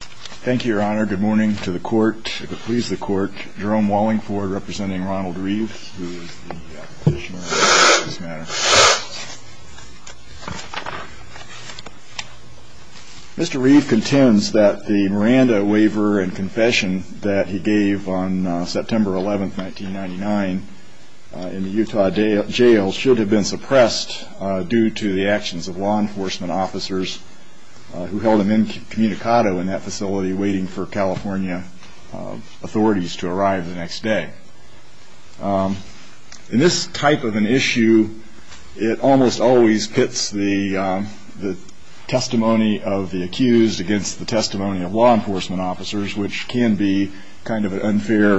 Thank you, Your Honor. Good morning to the court, if it pleases the court. Jerome Wallingford representing Ronald Reeve, who is the petitioner on this matter. Mr. Reeve contends that the Miranda waiver and confession that he gave on September 11, 1999 in the Utah jail should have been suppressed due to the actions of law enforcement officers who held him incommunicado in that facility waiting for California authorities to arrive the next day. In this type of an issue, it almost always pits the testimony of the accused against the testimony of law enforcement officers, which can be kind of an unfair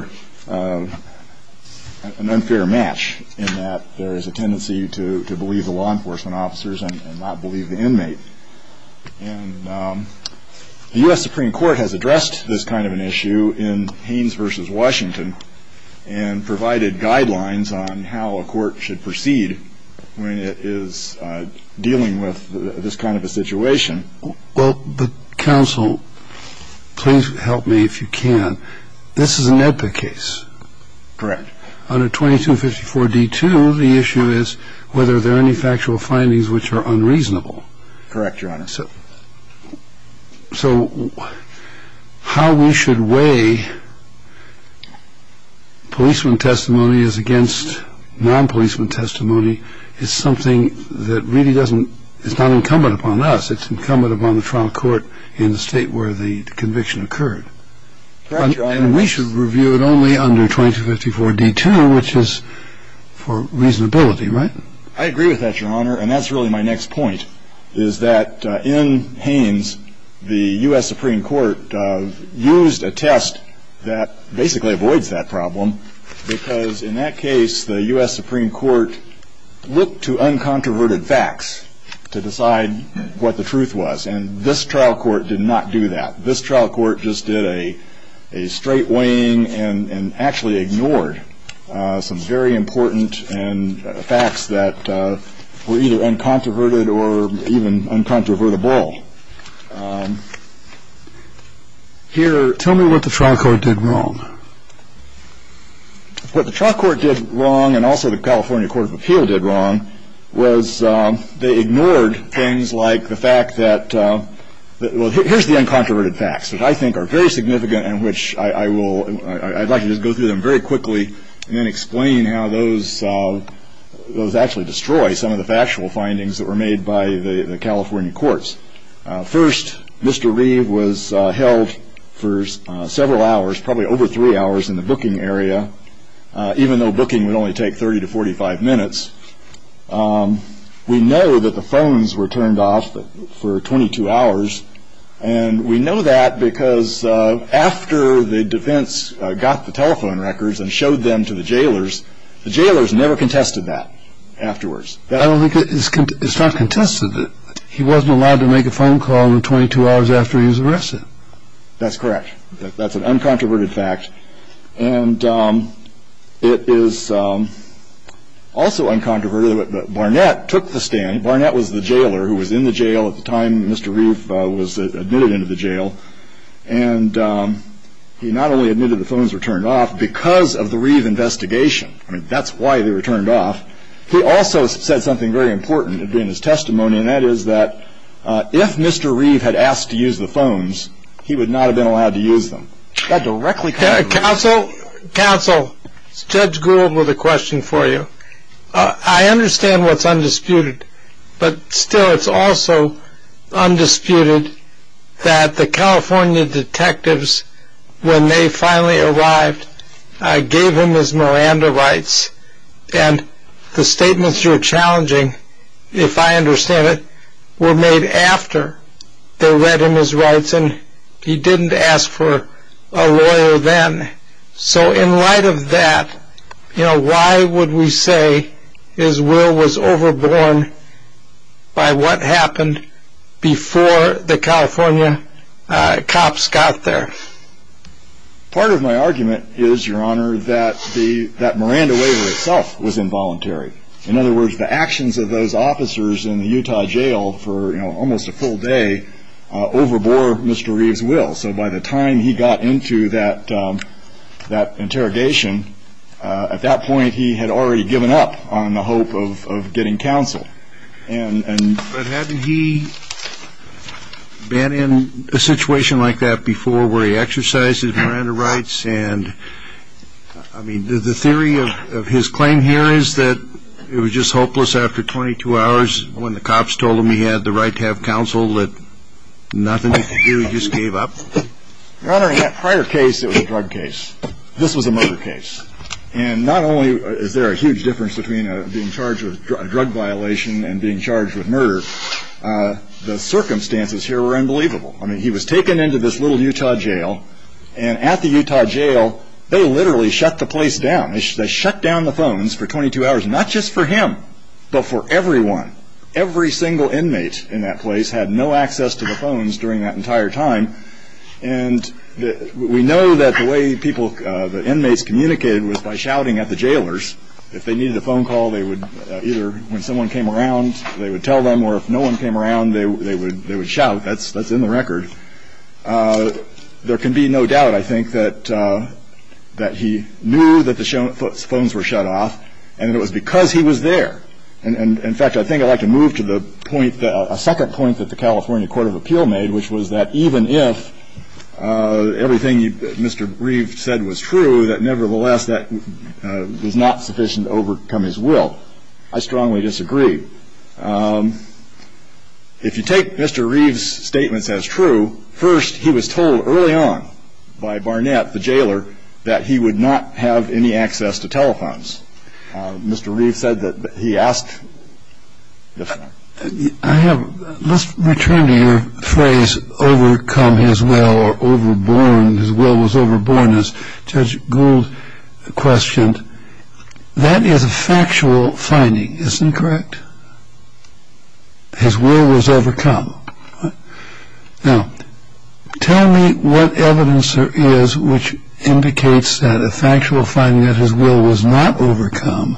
match in that there is a tendency to believe the law enforcement officers and not believe the inmate. The U.S. Supreme Court has addressed this kind of an issue in Haynes v. Washington and provided guidelines on how a court should proceed when it is dealing with this kind of a situation. Mr. Reeve, I would like to ask you a question. Mr. Reeve Well, counsel, please help me if you can. This is a NEDPA case. Mr. Wallingford Correct. Mr. Reeve Under 2254 D2, the issue is whether there are any factual findings which are unreasonable. Mr. Wallingford Correct, Your Honor. So how we should weigh policeman testimony as against non-policeman testimony is something that really doesn't – it's not incumbent upon us. It's incumbent upon the trial court in the state where the conviction occurred. And we should review it only under 2254 D2, which is for reasonability, right? Mr. Reeve I agree with that, Your Honor. And that's really my next point, is that in Haynes, the U.S. Supreme Court used a test that basically avoids that problem because in that case the U.S. Supreme Court looked to uncontroverted facts to decide what the truth was. And this trial court did not do that. This trial court just did a straight weighing and actually ignored some very important facts that were either uncontroverted or even uncontrovertible. Mr. Wallingford Tell me what the trial court did wrong. Mr. Reeve What the trial court did wrong, and also the California Court of Appeal did wrong, was they ignored things like the fact that – well, here's the uncontroverted facts, which I think are very significant and which I will – I'd like to just go through them very quickly and then explain how those actually destroy some of the factual findings that were made by the California courts. First, Mr. Reeve was held for several hours, probably over three hours in the booking area, even though booking would only take 30 to 45 minutes. We know that the phones were turned off for 22 hours, and we know that because after the defense got the telephone records and showed them to the jailers, the jailers never contested that afterwards. Mr. Wallingford I don't think – it's not contested that he wasn't allowed to make a phone call in the 22 hours after he was arrested. That's correct. That's an uncontroverted fact, and it is also uncontroverted that Barnett took the stand. Barnett was the jailer who was in the jail at the time Mr. Reeve was admitted into the jail, and he not only admitted the phones were turned off because of the Reeve investigation. I mean, that's why they were turned off. He also said something very important in his testimony, and that is that if Mr. Reeve had asked to use the phones, he would not have been allowed to use them. Counsel, Counsel, Judge Gould with a question for you. I understand what's undisputed, but still it's also undisputed that the California detectives, when they finally arrived, gave him his Miranda rights, and the statements you're challenging, if I understand it, were made after they read him his rights, and he didn't ask for a lawyer then. So in light of that, you know, why would we say his will was overborne by what happened before the California cops got there? Part of my argument is, Your Honor, that the Miranda waiver itself was involuntary. In other words, the actions of those officers in the Utah jail for almost a full day overbore Mr. Reeve's will. So by the time he got into that interrogation, at that point he had already given up on the hope of getting counsel. But hadn't he been in a situation like that before where he exercised his Miranda rights? And, I mean, the theory of his claim here is that it was just hopeless after 22 hours when the cops told him he had the right to have counsel, that nothing to do, he just gave up? Your Honor, in that prior case, it was a drug case. This was a murder case. And not only is there a huge difference between being charged with a drug violation and being charged with murder, the circumstances here were unbelievable. I mean, he was taken into this little Utah jail, and at the Utah jail, they literally shut the place down. They shut down the phones for 22 hours, not just for him, but for everyone. Every single inmate in that place had no access to the phones during that entire time. And we know that the way people, the inmates communicated was by shouting at the jailers. If they needed a phone call, they would either, when someone came around, they would tell them, or if no one came around, they would shout. That's in the record. There can be no doubt, I think, that he knew that the phones were shut off, and it was because he was there. And, in fact, I think I'd like to move to the point, a second point that the California Court of Appeal made, which was that even if everything Mr. Reeve said was true, that, nevertheless, that was not sufficient to overcome his will. I strongly disagree. If you take Mr. Reeve's statements as true, first, he was told early on by Barnett, the jailer, that he would not have any access to telephones. Mr. Reeve said that he asked if... Let's return to your phrase, overcome his will, or overborn, his will was overborn, as Judge Gould questioned. That is a factual finding. Isn't it correct? His will was overcome. Now, tell me what evidence there is which indicates that a factual finding, that his will was not overcome,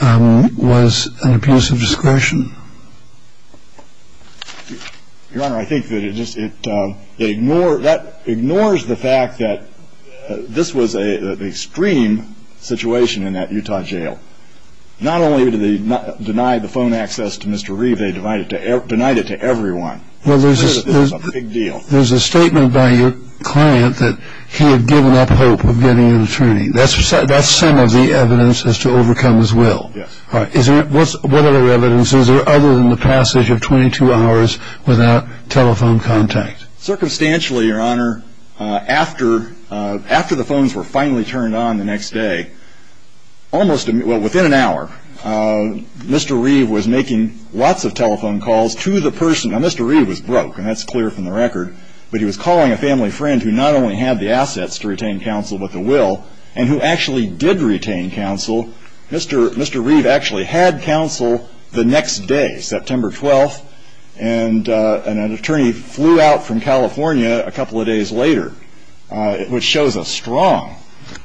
was an abuse of discretion. Your Honor, I think that it ignores the fact that this was an extreme situation in that Utah jail. Not only did they deny the phone access to Mr. Reeve, they denied it to everyone. It's clear that this was a big deal. There's a statement by your client that he had given up hope of getting an attorney. That's some of the evidence as to overcome his will. Yes. What other evidence is there other than the passage of 22 hours without telephone contact? Circumstantially, Your Honor, after the phones were finally turned on the next day, almost within an hour, Mr. Reeve was making lots of telephone calls to the person. Now, Mr. Reeve was broke, and that's clear from the record. But he was calling a family friend who not only had the assets to retain counsel with the will and who actually did retain counsel. Mr. Reeve actually had counsel the next day, September 12th, and an attorney flew out from California a couple of days later, which shows a strong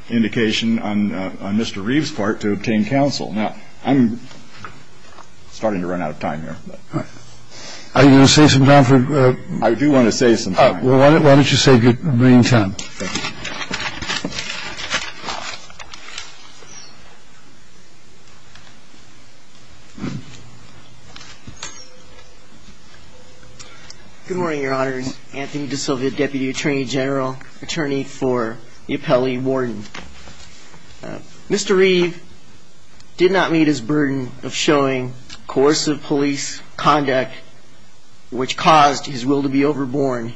indication on Mr. Reeve's part to obtain counsel. Now, I'm starting to run out of time here. All right. Are you going to save some time? I do want to save some time. Why don't you save your remaining time? Thank you. Good morning, Your Honors. Anthony DeSilvia, deputy attorney general, attorney for the appellee warden. Mr. Reeve did not meet his burden of showing coercive police conduct, which caused his will to be overborne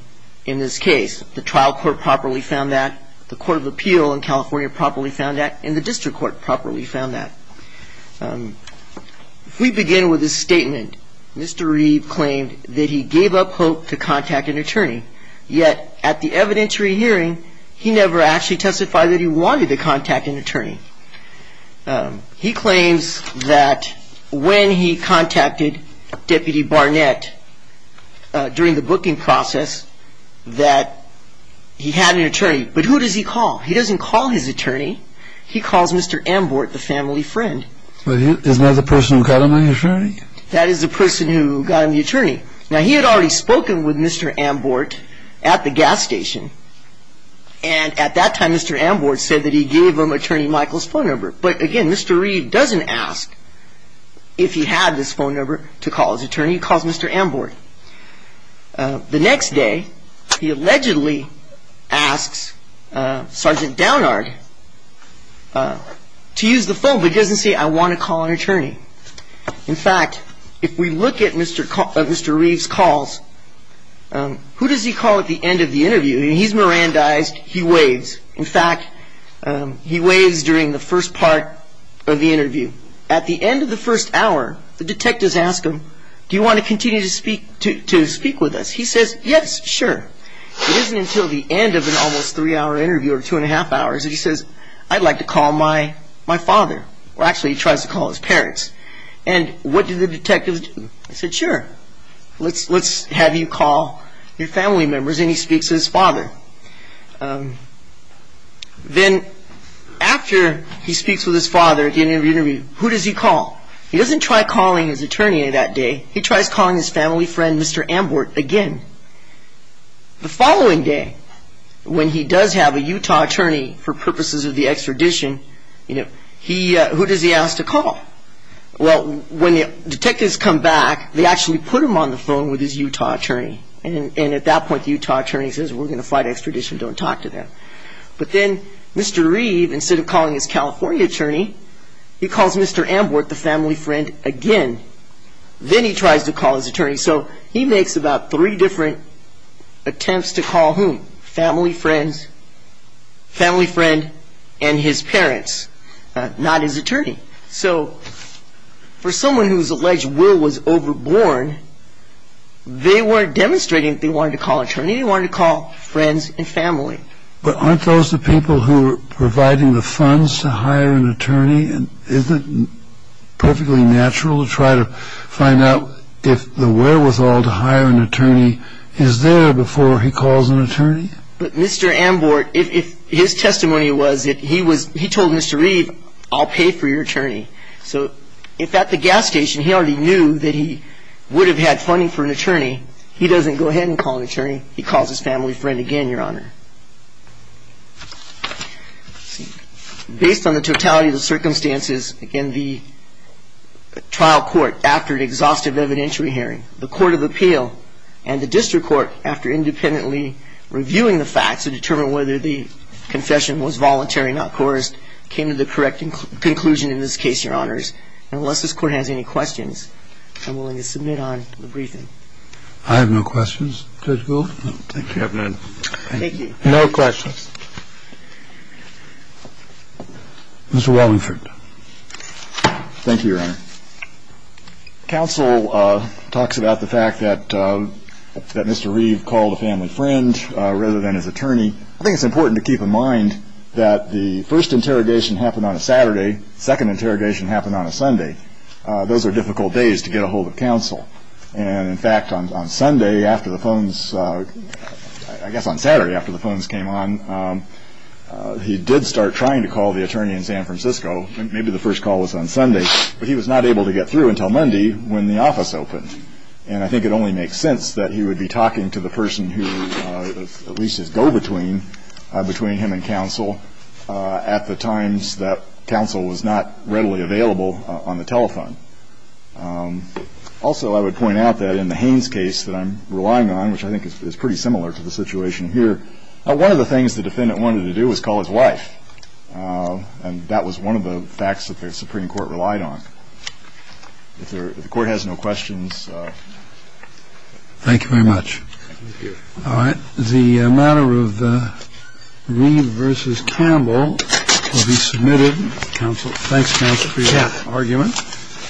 in this case. The trial court properly found that. The court of appeal in California properly found that, and the district court properly found that. If we begin with his statement, Mr. Reeve claimed that he gave up hope to contact an attorney, yet at the evidentiary hearing, he never actually testified that he wanted to contact an attorney. He claims that when he contacted Deputy Barnett during the booking process, that he had an attorney. But who does he call? He doesn't call his attorney. He calls Mr. Ambort, the family friend. Isn't that the person who got him an attorney? That is the person who got him the attorney. Now, he had already spoken with Mr. Ambort at the gas station, and at that time Mr. Ambort said that he gave him Attorney Michael's phone number. But, again, Mr. Reeve doesn't ask if he had this phone number to call his attorney. He calls Mr. Ambort. The next day, he allegedly asks Sergeant Downard to use the phone, but he doesn't say, I want to call an attorney. In fact, if we look at Mr. Reeve's calls, who does he call at the end of the interview? He's Mirandized. He waves. In fact, he waves during the first part of the interview. At the end of the first hour, the detectives ask him, do you want to continue to speak with us? He says, yes, sure. It isn't until the end of an almost three-hour interview, or two and a half hours, that he says, I'd like to call my father. Well, actually, he tries to call his parents. And what do the detectives do? They said, sure, let's have you call your family members, and he speaks to his father. Then, after he speaks with his father at the end of the interview, who does he call? He doesn't try calling his attorney that day. He tries calling his family friend, Mr. Ambort, again. The following day, when he does have a Utah attorney for purposes of the extradition, who does he ask to call? Well, when the detectives come back, they actually put him on the phone with his Utah attorney. And at that point, the Utah attorney says, we're going to fight extradition. Don't talk to them. But then, Mr. Reeve, instead of calling his California attorney, he calls Mr. Ambort, the family friend, again. Then he tries to call his attorney. So he makes about three different attempts to call whom? Family friend and his parents, not his attorney. So for someone who's alleged will was overborn, they weren't demonstrating that they wanted to call an attorney. They wanted to call friends and family. But aren't those the people who are providing the funds to hire an attorney? Isn't it perfectly natural to try to find out if the wherewithal to hire an attorney is there before he calls an attorney? But Mr. Ambort, his testimony was that he told Mr. Reeve, I'll pay for your attorney. So if at the gas station he already knew that he would have had funding for an attorney, he doesn't go ahead and call an attorney. He calls his family friend again, Your Honor. Based on the totality of the circumstances, again, the trial court, after an exhaustive evidentiary hearing, the court of appeal and the district court, after independently reviewing the facts to determine whether the confession was voluntary, not coerced, came to the correct conclusion in this case, Your Honors. And unless this Court has any questions, I'm willing to submit on the briefing. I have no questions. Judge Gould. Thank you, Your Honor. Thank you. No questions. Mr. Wallingford. Thank you, Your Honor. Counsel talks about the fact that Mr. Reeve called a family friend rather than his attorney. I think it's important to keep in mind that the first interrogation happened on a Saturday, second interrogation happened on a Sunday. Those are difficult days to get a hold of counsel. And, in fact, on Sunday after the phones, I guess on Saturday after the phones came on, he did start trying to call the attorney in San Francisco. Maybe the first call was on Sunday. But he was not able to get through until Monday when the office opened. And I think it only makes sense that he would be talking to the person who, at least his go-between, between him and counsel at the times that counsel was not readily available on the telephone. Also, I would point out that in the Haynes case that I'm relying on, which I think is pretty similar to the situation here, one of the things the defendant wanted to do was call his wife. And that was one of the facts that the Supreme Court relied on. If the Court has no questions. Thank you very much. Thank you. All right. The matter of Reeve v. Campbell will be submitted. Thanks, counsel, for your argument. Thank you.